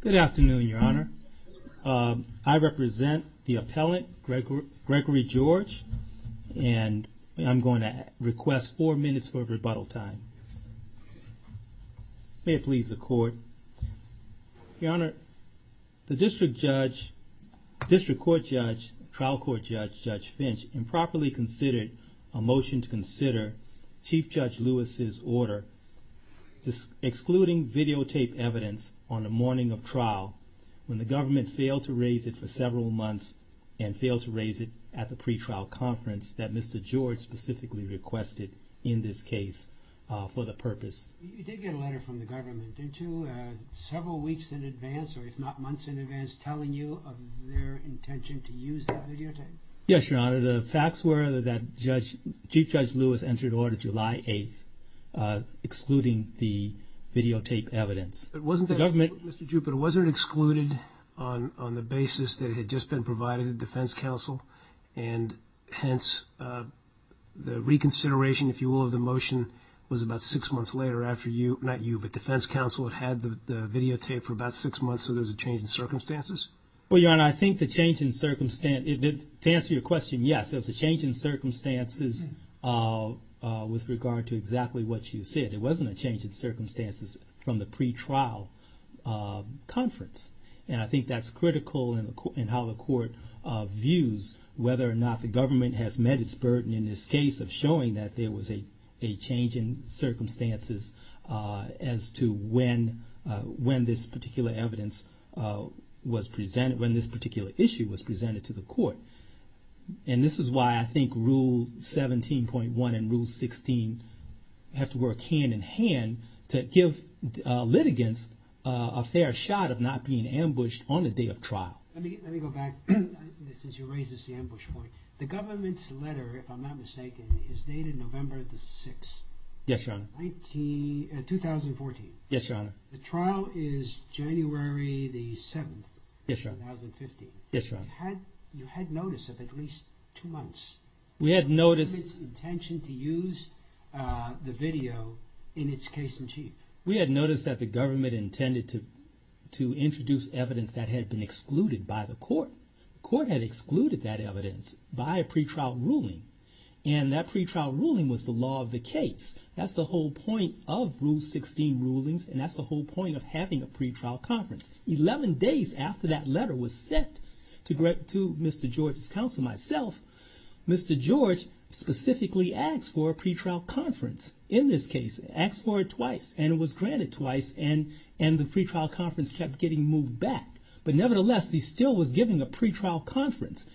Good afternoon, Your Honor. I represent the appellant, Gregory George, and I'm going to request four minutes for rebuttal time. May it please the court. Your Honor, the district judge, district court judge, trial court judge, Judge Finch, improperly considered a motion to consider Chief Judge Lewis' order excluding videotape evidence on the morning of trial when the government failed to raise it for several months and failed to raise it at the pre-trial conference that Mr. George specifically requested in this case. You did get a letter from the government, didn't you, several weeks in advance, or if not months in advance, telling you of their intention to use that videotape? Yes, Your Honor. The facts were that Chief Judge Lewis entered order July 8th excluding the videotape evidence. But wasn't that, Mr. Drew, but it wasn't excluded on the basis that it had just been provided to defense counsel, and hence the reconsideration, if you will, of the motion was about six months later after you, not you, but defense counsel had had the videotape for about six months, so there was a change in circumstances? Well, Your Honor, I think the change in circumstance, to answer your question, yes, there was a change in circumstances with regard to exactly what you said. It wasn't a change in circumstances from the pre-trial conference, and I think that's critical in how the court views whether or not the government has met its burden in this case of showing that there was a change in circumstances as to when this particular evidence was provided. When this particular issue was presented to the court, and this is why I think Rule 17.1 and Rule 16 have to work hand in hand to give litigants a fair shot of not being ambushed on the day of trial. Let me go back, since you raised this ambush point. The government's letter, if I'm not mistaken, is dated November the 6th. Yes, Your Honor. 2014. Yes, Your Honor. The trial is January the 7th. Yes, Your Honor. 2015. Yes, Your Honor. You had notice of at least two months. We had notice. The government's intention to use the video in its case in chief. We had notice that the government intended to introduce evidence that had been excluded by the court. The court had excluded that evidence by a pre-trial ruling, and that pre-trial ruling was the law of the case. That's the whole point of Rule 16 rulings, and that's the whole point of having a pre-trial conference. Eleven days after that letter was sent to Mr. George's counsel, myself, Mr. George specifically asked for a pre-trial conference in this case. Asked for it twice, and it was granted twice, and the pre-trial conference kept getting moved back. But nevertheless, he still was giving a pre-trial conference.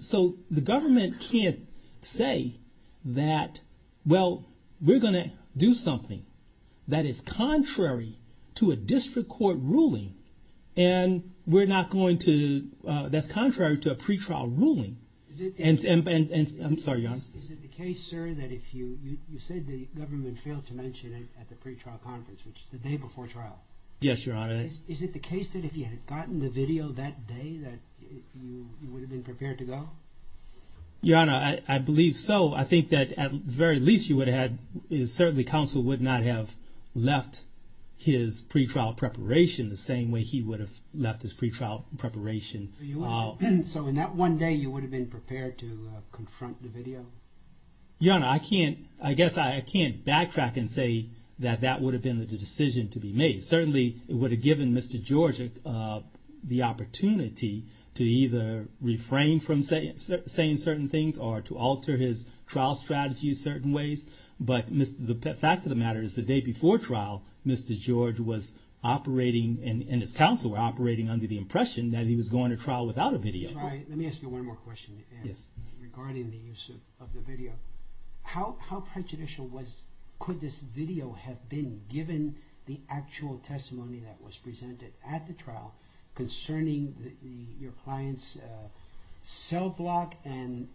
So the government can't say that, well, we're going to do something that is contrary to a district court ruling, and that's contrary to a pre-trial ruling. I'm sorry, Your Honor. Is it the case, sir, that if you said the government failed to mention it at the pre-trial conference, which is the day before trial? Yes, Your Honor. Is it the case that if you had gotten the video that day, that you would have been prepared to go? Your Honor, I believe so. I think that at the very least, you would have had – certainly, counsel would not have left his pre-trial preparation the same way he would have left his pre-trial preparation. So in that one day, you would have been prepared to confront the video? Your Honor, I can't – I guess I can't backtrack and say that that would have been the decision to be made. Certainly, it would have given Mr. George the opportunity to either refrain from saying certain things or to alter his trial strategy in certain ways. But the fact of the matter is the day before trial, Mr. George was operating – and his counsel were operating under the impression that he was going to trial without a video. Let me ask you one more question regarding the use of the video. How prejudicial was – could this video have been given the actual testimony that was presented at the trial concerning your client's cell block and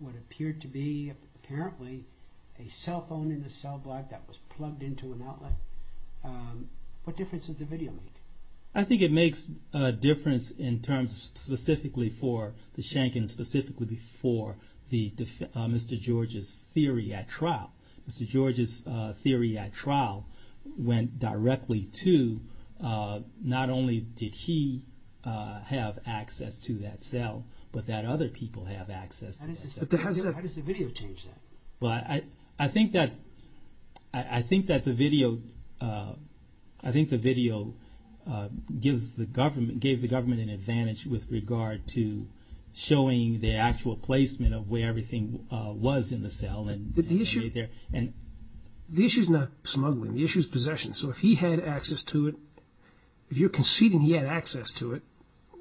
what appeared to be, apparently, a cell phone in the cell block that was plugged into an outlet? What difference does the video make? I think it makes a difference in terms – specifically for the Schenken, specifically for the – Mr. George's theory at trial. Mr. George's theory at trial went directly to not only did he have access to that cell, but that other people have access to that cell. How does the video change that? Well, I think that – I think that the video – I think the video gives the government – gave the government an advantage with regard to showing the actual placement of where everything was in the cell. But the issue – And – The issue is not smuggling. The issue is possession. So if he had access to it – if you're conceding he had access to it,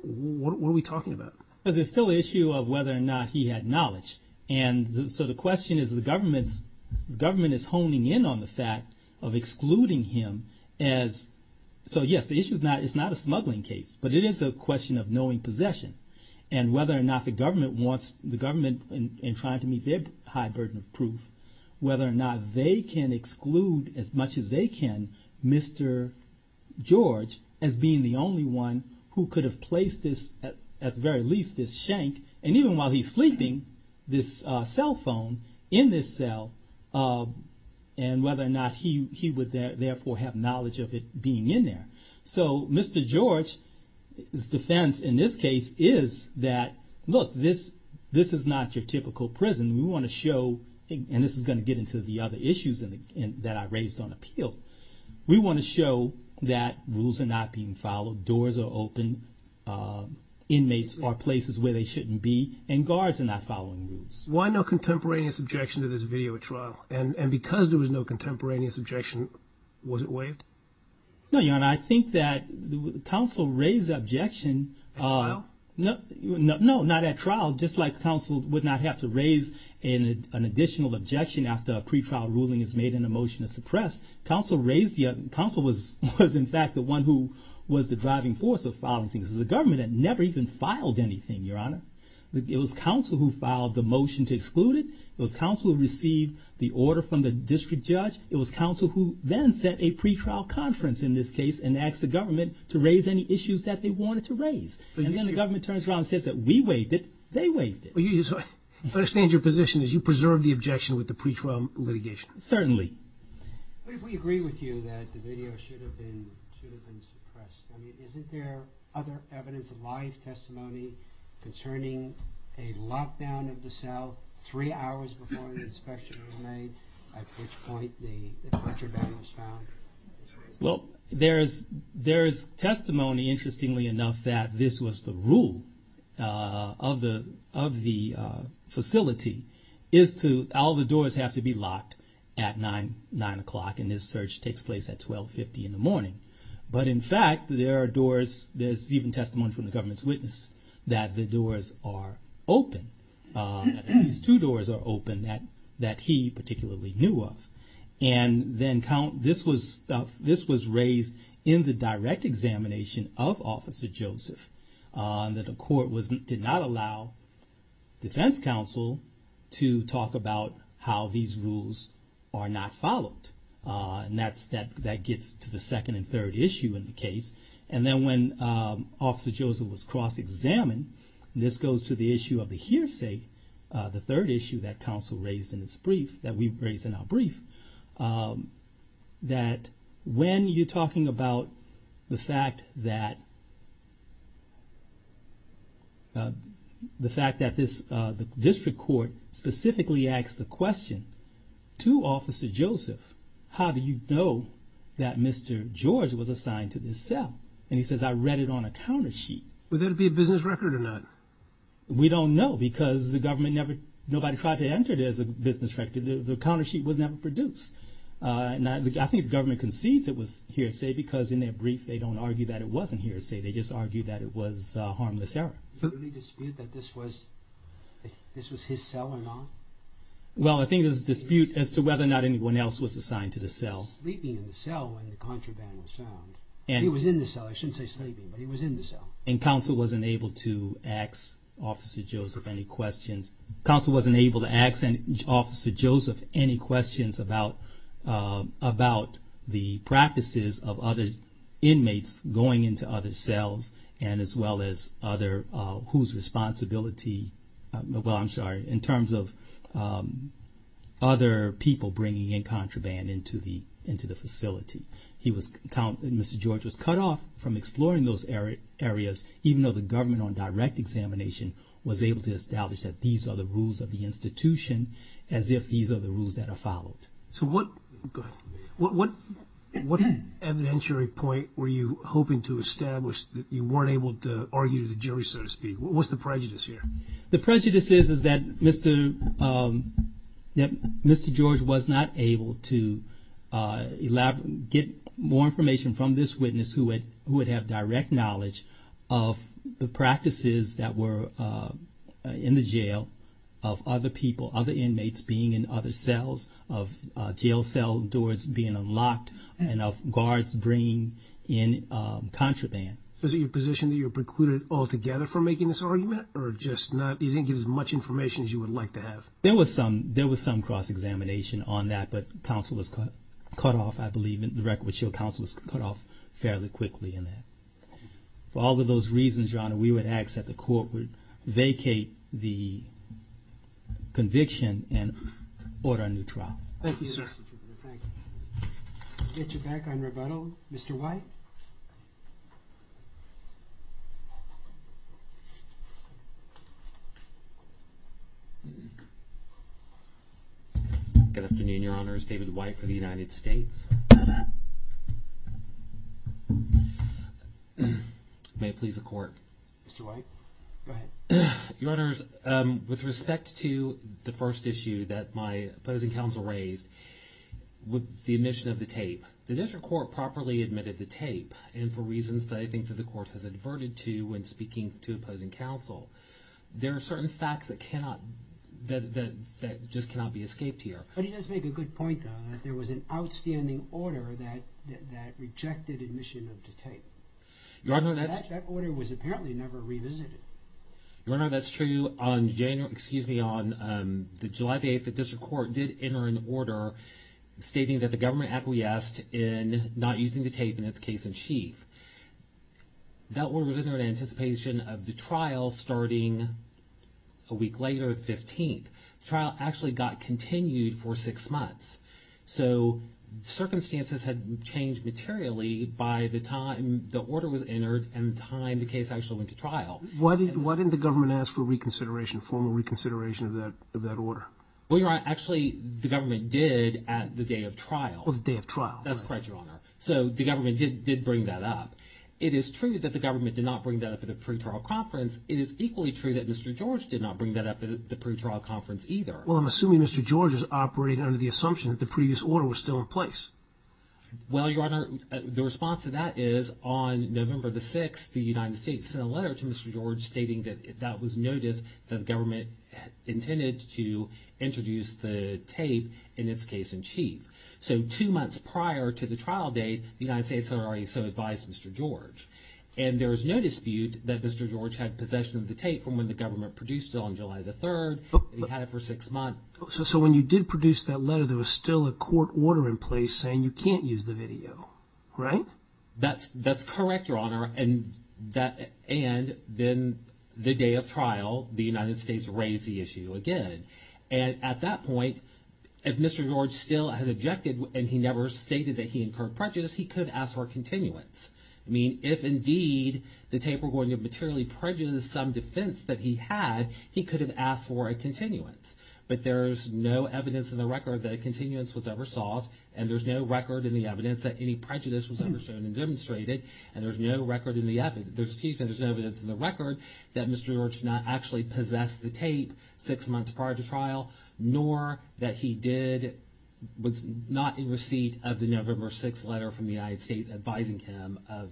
what are we talking about? Well, there's still the issue of whether or not he had knowledge. And so the question is the government's – the government is honing in on the fact of excluding him as – so yes, the issue is not – it's not a smuggling case, but it is a question of knowing possession. And whether or not the government wants – the government, in trying to meet their high burden of proof, whether or not they can exclude, as much as they can, Mr. George as being the only one who could have placed this – at the very least, this Schenken, and even while he's sleeping, this cell phone in this cell, and whether or not he would therefore have knowledge of it being in there. So Mr. George's defense in this case is that, look, this is not your typical prison. We want to show – and this is going to get into the other issues that I raised on appeal. We want to show that rules are not being followed, doors are open, inmates are places where they shouldn't be, and guards are not following rules. Why no contemporaneous objection to this video at trial? And because there was no contemporaneous objection, was it waived? No, Your Honor, I think that counsel raised the objection – At trial? No, not at trial. Just like counsel would not have to raise an additional objection after a pretrial ruling is made and a motion is suppressed, counsel raised the – counsel was in fact the one who was the driving force of following things. This is a government that never even filed anything, Your Honor. It was counsel who filed the motion to exclude it. It was counsel who received the order from the district judge. It was counsel who then set a pretrial conference in this case and asked the government to raise any issues that they wanted to raise. And then the government turns around and says that we waived it, they waived it. I understand your position is you preserve the objection with the pretrial litigation. Certainly. We agree with you that the video should have been suppressed. I mean, isn't there other evidence of live testimony concerning a lockdown of the cell three hours before the inspection was made, at which point the torture bed was found? Well, there is testimony, interestingly enough, that this was the rule of the facility, is to – all the doors have to be locked at 9 o'clock, and this search takes place at 12.50 in the morning. But in fact, there are doors – there's even testimony from the government's witness that the doors are open. These two doors are open that he particularly knew of. And then this was raised in the direct examination of Officer Joseph, that the court did not allow defense counsel to talk about how these rules are not followed. And that's – that gets to the second and third issue in the case. And then when Officer Joseph was cross-examined, and this goes to the issue of the hearsay, the third issue that counsel raised in its brief, that we raised in our brief, that when you're talking about the fact that – the fact that this district court specifically asked the question to Officer Joseph, how do you know that Mr. George was assigned to this cell? And he says, I read it on a countersheet. Would that be a business record or not? We don't know, because the government never – nobody tried to enter it as a business record. The countersheet was never produced. And I think the government concedes it was hearsay, because in their brief, they don't argue that it wasn't hearsay. They just argue that it was harmless error. Is there any dispute that this was – this was his cell or not? Well, I think there's a dispute as to whether or not anyone else was assigned to the cell. He was sleeping in the cell when the contraband was found. He was in the cell. I shouldn't say sleeping, but he was in the cell. And counsel wasn't able to ask Officer Joseph any questions about the practices of other inmates going into other cells, and as well as other – whose responsibility – well, I'm sorry – in terms of other people bringing in contraband into the facility. He was – Mr. George was cut off from exploring those areas, even though the government on direct examination was able to establish that these are the rules of the institution, as if these are the rules that are followed. So what – go ahead. What evidentiary point were you hoping to establish that you weren't able to argue to the jury, so to speak? What's the prejudice here? The prejudice is that Mr. – that Mr. George was not able to elaborate – get more information from this witness who had – who would have direct knowledge of the practices that were in the jail of other people, other inmates being in other cells, of jail cell doors being unlocked, and of guards bringing in contraband. Was it your position that you were precluded altogether from making this argument, or just not – you didn't get as much information as you would like to have? There was some – there was some cross-examination on that, but counsel was cut off, I believe – the record would show counsel was cut off fairly quickly in that. For all of those reasons, Your Honor, we would ask that the court would vacate the conviction and order a new trial. Thank you, sir. We'll get you back on rebuttal. Mr. White? Good afternoon, Your Honors. David White for the United States. May it please the court. Mr. White, go ahead. Your Honors, with respect to the first issue that my opposing counsel raised with the admission of the tape, the district court properly admitted the tape, and for reasons that I think that the court has adverted to when speaking to opposing counsel. There are certain facts that cannot – that just cannot be escaped here. But he does make a good point, though, that there was an outstanding order that rejected admission of the tape. Your Honor, that's – That order was apparently never revisited. Your Honor, that's true. On January – excuse me, on the July 8th, the district court did enter an order stating that the government acquiesced in not using the tape in its case in chief. That order was entered in anticipation of the trial starting a week later, the 15th. The trial actually got continued for six months, so circumstances had changed materially by the time the order was entered and the time the case actually went to trial. Why didn't the government ask for reconsideration, formal reconsideration of that order? Well, Your Honor, actually, the government did at the day of trial. Well, the day of trial. That's correct, Your Honor. So the government did bring that up. It is true that the government did not bring that up at a pretrial conference. It is equally true that Mr. George did not bring that up at the pretrial conference either. Well, I'm assuming Mr. George is operating under the assumption that the previous order was still in place. Well, Your Honor, the response to that is on November the 6th, the United States sent a letter to Mr. George stating that that was notice that the government intended to introduce the tape in its case in chief. So two months prior to the trial date, the United States had already so advised Mr. George. And there was no dispute that Mr. George had possession of the tape from when the government produced it on July the 3rd. He had it for six months. So when you did produce that letter, there was still a court order in place saying you can't use the video, right? That's correct, Your Honor. And then the day of trial, the United States raised the issue again. And at that point, if Mr. George still has objected and he never stated that he incurred prejudice, he could ask for a continuance. I mean, if indeed the tape were going to materially prejudice some defense that he had, he could have asked for a continuance. But there's no evidence in the record that a continuance was ever sought. And there's no record in the evidence that any prejudice was ever shown and demonstrated. And there's no record in the evidence – there's no evidence in the record that Mr. George not actually possessed the tape six months prior to trial, nor that he did – was not in receipt of the November 6th letter from the United States advising him of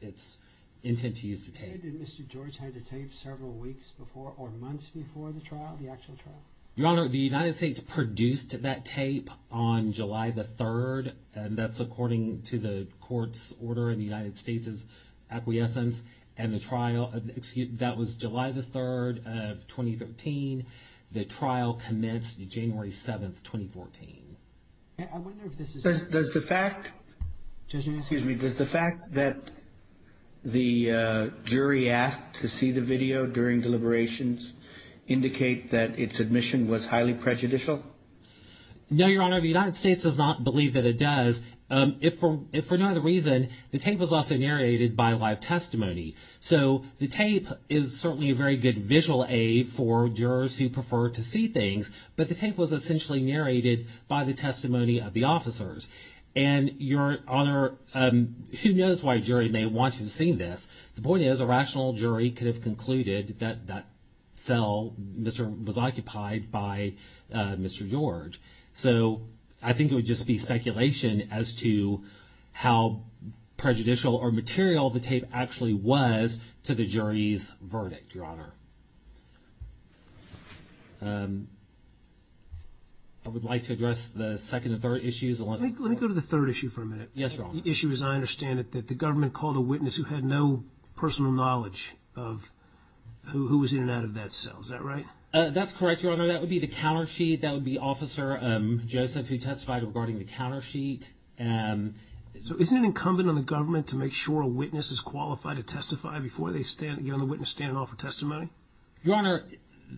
its intent to use the tape. Did you say that Mr. George had the tape several weeks before or months before the trial, the actual trial? Your Honor, the United States produced that tape on July the 3rd. And that's according to the court's order in the United States' acquiescence. And the trial – that was July the 3rd of 2013. The trial commenced January 7th, 2014. I wonder if this is – Does the fact – excuse me – does the fact that the jury asked to see the video during deliberations indicate that its admission was highly prejudicial? No, Your Honor, the United States does not believe that it does. If for no other reason, the tape was also narrated by live testimony. So the tape is certainly a very good visual aid for jurors who prefer to see things. But the tape was essentially narrated by the testimony of the officers. And, Your Honor, who knows why a jury may want to have seen this. The point is a rational jury could have concluded that that cell was occupied by Mr. George. So I think it would just be speculation as to how prejudicial or material the tape actually was to the jury's verdict, Your Honor. I would like to address the second and third issues. Let me go to the third issue for a minute. Yes, Your Honor. The issue is I understand that the government called a witness who had no personal knowledge of who was in and out of that cell. Is that right? That's correct, Your Honor. That would be the countersheet. That would be Officer Joseph who testified regarding the countersheet. So isn't it incumbent on the government to make sure a witness is qualified to testify before they get on the witness stand and offer testimony? Your Honor,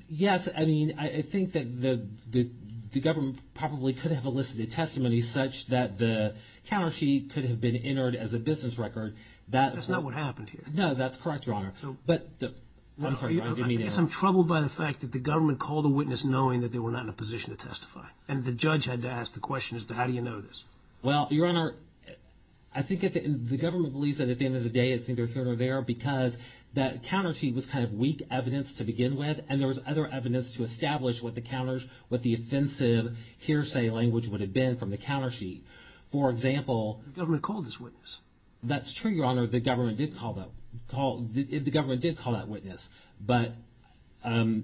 yes. I mean, I think that the government probably could have elicited testimony such that the countersheet could have been entered as a business record. That's not what happened here. No, that's correct, Your Honor. I'm in some trouble by the fact that the government called a witness knowing that they were not in a position to testify and the judge had to ask the question as to how do you know this. Well, Your Honor, I think the government believes that at the end of the day it's either here or there because that countersheet was kind of weak evidence to begin with and there was other evidence to establish what the counters, what the offensive hearsay language would have been from the countersheet. For example. The government called this witness. That's true, Your Honor. The government did call that witness. But the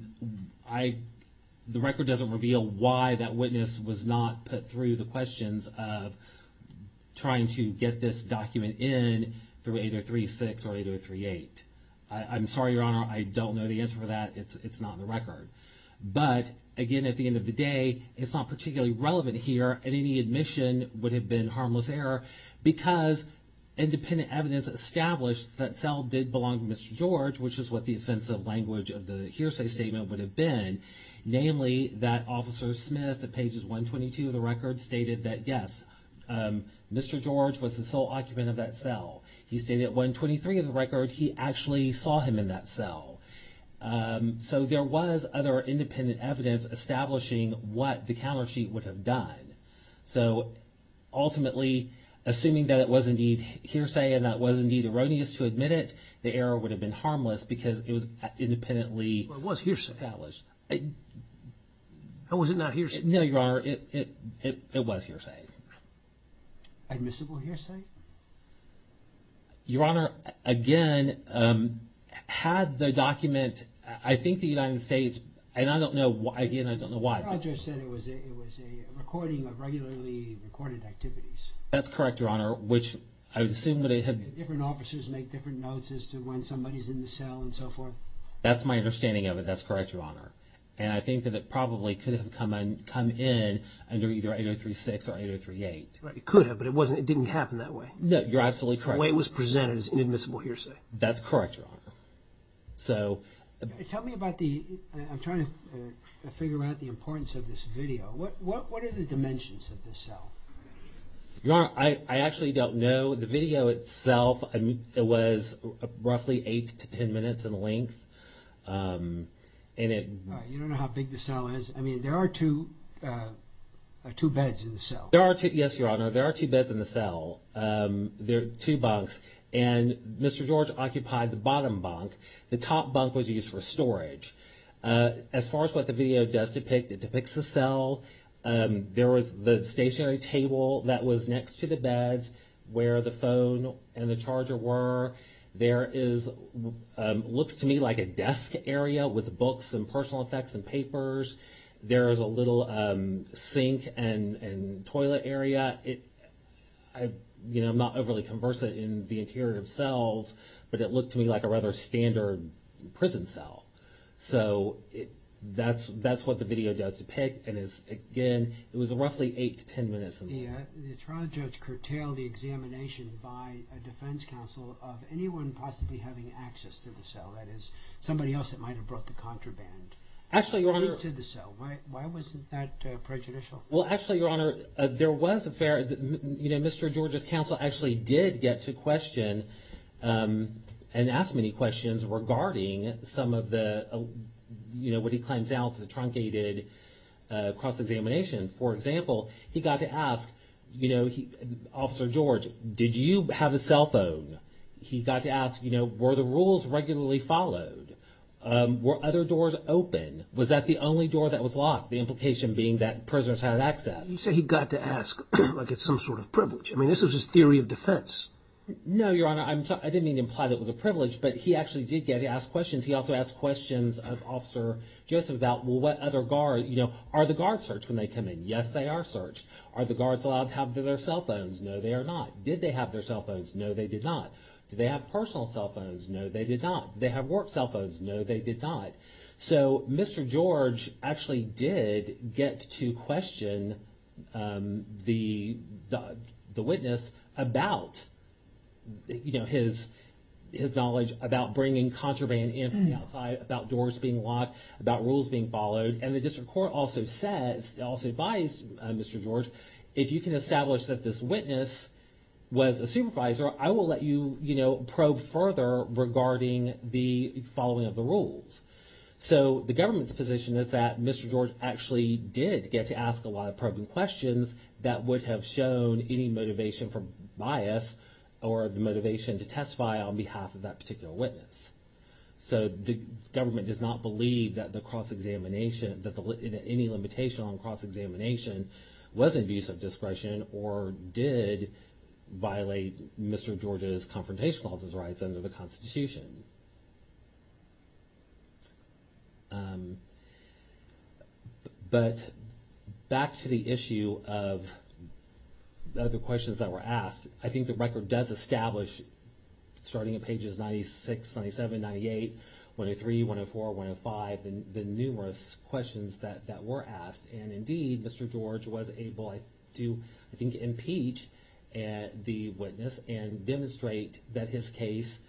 record doesn't reveal why that witness was not put through the questions of trying to get this document in through 8036 or 8038. I'm sorry, Your Honor. I don't know the answer for that. It's not in the record. But again, at the end of the day, it's not particularly relevant here and any admission would have been harmless error because independent evidence established that cell did belong to Mr. George, which is what the offensive language of the hearsay statement would have been, namely that Officer Smith at pages 122 of the record stated that, yes, Mr. George was the sole occupant of that cell. He stated at 123 of the record he actually saw him in that cell. So there was other independent evidence establishing what the countersheet would have done. So ultimately, assuming that it was indeed hearsay and that it was indeed erroneous to admit it, the error would have been harmless because it was independently established. Well, it was hearsay. Or was it not hearsay? No, Your Honor. It was hearsay. Admissible hearsay? Your Honor, again, had the document, I think the United States, and I don't know why, again, I don't know why. Your Honor, I just said it was a recording of regularly recorded activities. That's correct, Your Honor, which I would assume that it had... Different officers make different notes as to when somebody's in the cell and so forth. That's my understanding of it. That's correct, Your Honor. And I think that it probably could have come in under either 8036 or 8038. It could have, but it didn't happen that way. No, you're absolutely correct. The way it was presented is inadmissible hearsay. That's correct, Your Honor. Tell me about the... I'm trying to figure out the importance of this video. What are the dimensions of this cell? Your Honor, I actually don't know. The video itself was roughly eight to ten minutes in length. You don't know how big the cell is? I mean, there are two beds in the cell. Yes, Your Honor, there are two beds in the cell. There are two bunks, and Mr. George occupied the bottom bunk. The top bunk was used for storage. As far as what the video does depict, it depicts a cell. There was the stationary table that was next to the beds where the phone and the charger were. There is what looks to me like a desk area with books and personal effects and papers. There is a little sink and toilet area. I'm not overly conversant in the interior of cells, but it looked to me like a rather standard prison cell. That's what the video does depict. Again, it was roughly eight to ten minutes in length. The trial judge curtailed the examination by a defense counsel of anyone possibly having access to the cell, that is, somebody else that might have brought the contraband into the cell. Why wasn't that prejudicial? Well, actually, Your Honor, there was a fair— Mr. George's counsel actually did get to question and ask many questions regarding some of the— what he claims now is the truncated cross-examination. For example, he got to ask, Officer George, did you have a cell phone? He got to ask, were the rules regularly followed? Were other doors open? Was that the only door that was locked, the implication being that prisoners had access? You say he got to ask like it's some sort of privilege. I mean, this was his theory of defense. No, Your Honor. I didn't mean to imply that it was a privilege, but he actually did get to ask questions. He also asked questions of Officer Joseph about, well, what other guards— are the guards searched when they come in? Yes, they are searched. Are the guards allowed to have their cell phones? No, they are not. Did they have their cell phones? No, they did not. Did they have personal cell phones? No, they did not. Did they have work cell phones? No, they did not. So, Mr. George actually did get to question the witness about his knowledge about bringing contraband in from the outside, about doors being locked, about rules being followed. And the district court also says, also advised Mr. George, if you can establish that this witness was a supervisor, I will let you probe further regarding the following of the rules. So, the government's position is that Mr. George actually did get to ask a lot of probing questions that would have shown any motivation for bias or the motivation to testify on behalf of that particular witness. So, the government does not believe that the cross-examination, that any limitation on cross-examination was an abuse of discretion or did violate Mr. George's Confrontation Clause's rights under the Constitution. But back to the issue of the questions that were asked, I think the record does establish, starting at pages 96, 97, 98, 103, 104, 105, the numerous questions that were asked. And indeed, Mr. George was able to, I think, impeach the witness and demonstrate that his case,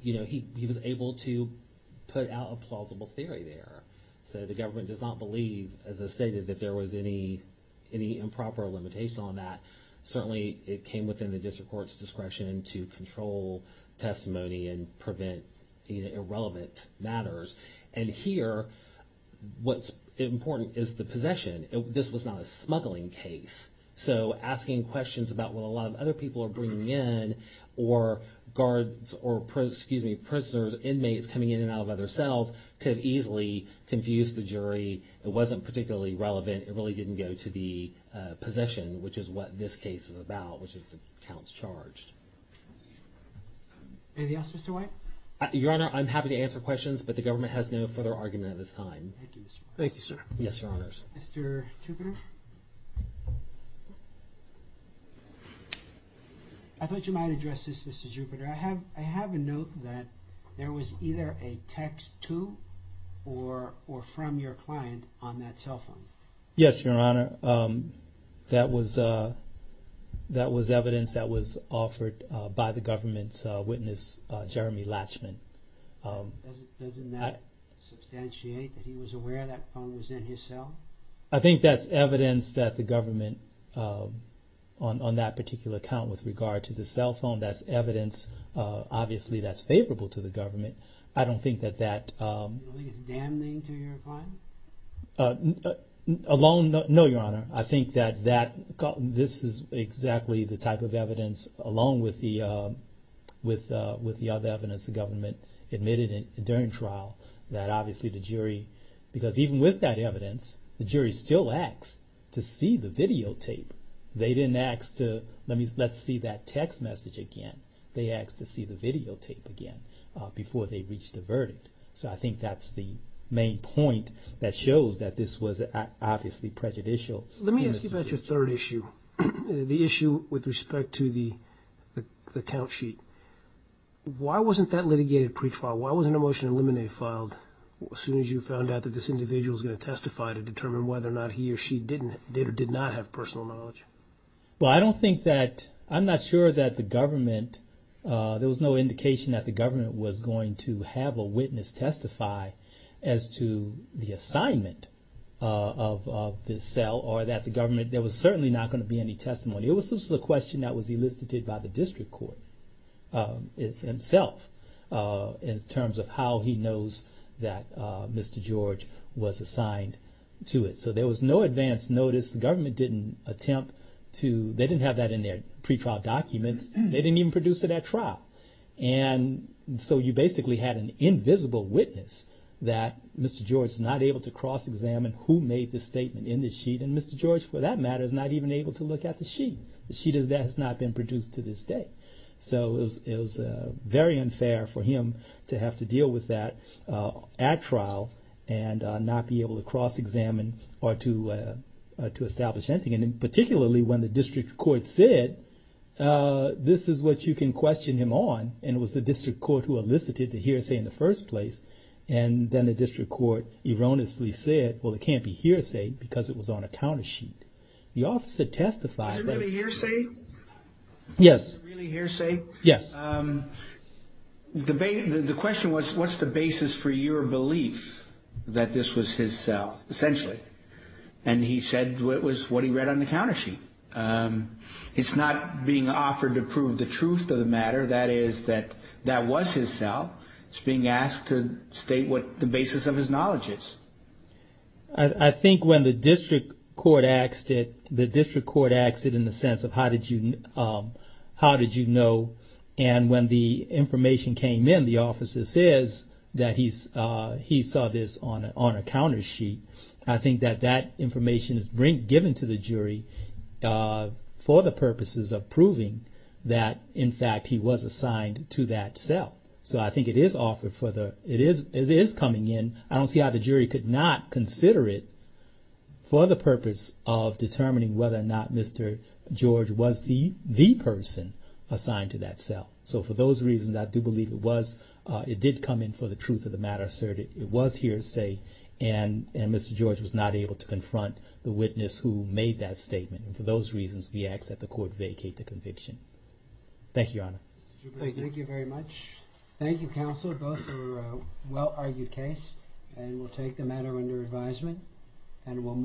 he was able to put out a plausible theory there. So, the government does not believe, as I stated, that there was any improper limitation on that. Certainly, it came within the district court's discretion to control testimony and prevent irrelevant matters. And here, what's important is the possession. This was not a smuggling case. So, asking questions about what a lot of other people are bringing in or guards or prisoners, inmates coming in and out of other cells could have easily confused the jury. It wasn't particularly relevant. It really didn't go to the possession, which is what this case is about, which is the counts charged. Anything else, Mr. White? Your Honor, I'm happy to answer questions, but the government has no further argument at this time. Thank you, Mr. White. Thank you, sir. Yes, Your Honors. Mr. Jupiter? I thought you might address this, Mr. Jupiter. I have a note that there was either a text to or from your client on that cell phone. Yes, Your Honor. That was evidence that was offered by the government's witness, Jeremy Latchman. Doesn't that substantiate that he was aware that phone was in his cell? I think that's evidence that the government, on that particular count with regard to the cell phone, that's evidence obviously that's favorable to the government. I don't think that that... You don't think it's damning to your client? No, Your Honor. I think that this is exactly the type of evidence, along with the other evidence the government admitted during trial, that obviously the jury, because even with that evidence, the jury still asked to see the videotape. They didn't ask to, let's see that text message again. They asked to see the videotape again before they reached a verdict. So I think that's the main point that shows that this was obviously prejudicial. Let me ask you about your third issue, the issue with respect to the count sheet. Why wasn't that litigated pre-trial? Why wasn't a motion to eliminate filed as soon as you found out that this individual was going to testify to determine whether or not he or she did or did not have personal knowledge? Well, I don't think that, I'm not sure that the government, there was no indication that the government was going to have a witness testify as to the assignment of this cell, or that the government, there was certainly not going to be any testimony. It was a question that was elicited by the district court himself, in terms of how he knows that Mr. George was assigned to it. So there was no advance notice. The government didn't attempt to, they didn't have that in their pre-trial documents. They didn't even produce it at trial. And so you basically had an invisible witness that Mr. George is not able to cross-examine who made the statement in the sheet. And Mr. George, for that matter, is not even able to look at the sheet. The sheet has not been produced to this day. So it was very unfair for him to have to deal with that at trial and not be able to cross-examine or to establish anything. And particularly when the district court said, this is what you can question him on, and it was the district court who elicited the hearsay in the first place. And then the district court erroneously said, well, it can't be hearsay because it was on a counter sheet. The officer testified. Is it really hearsay? Yes. Is it really hearsay? Yes. The question was, what's the basis for your belief that this was his cell, essentially? And he said it was what he read on the counter sheet. It's not being offered to prove the truth of the matter, that is, that that was his cell. It's being asked to state what the basis of his knowledge is. I think when the district court asked it in the sense of how did you know, and when the information came in, the officer says that he saw this on a counter sheet, I think that that information is given to the jury for the purposes of proving that, in fact, he was assigned to that cell. So I think it is coming in. I don't see how the jury could not consider it for the purpose of determining whether or not Mr. George was the person assigned to that cell. So for those reasons, I do believe it was. It did come in for the truth of the matter asserted. It was hearsay. And Mr. George was not able to confront the witness who made that statement. And for those reasons, we ask that the court vacate the conviction. Thank you, Your Honor. Thank you very much. Thank you, counsel. Both were a well-argued case, and we'll take the matter under advisement, and we'll move on.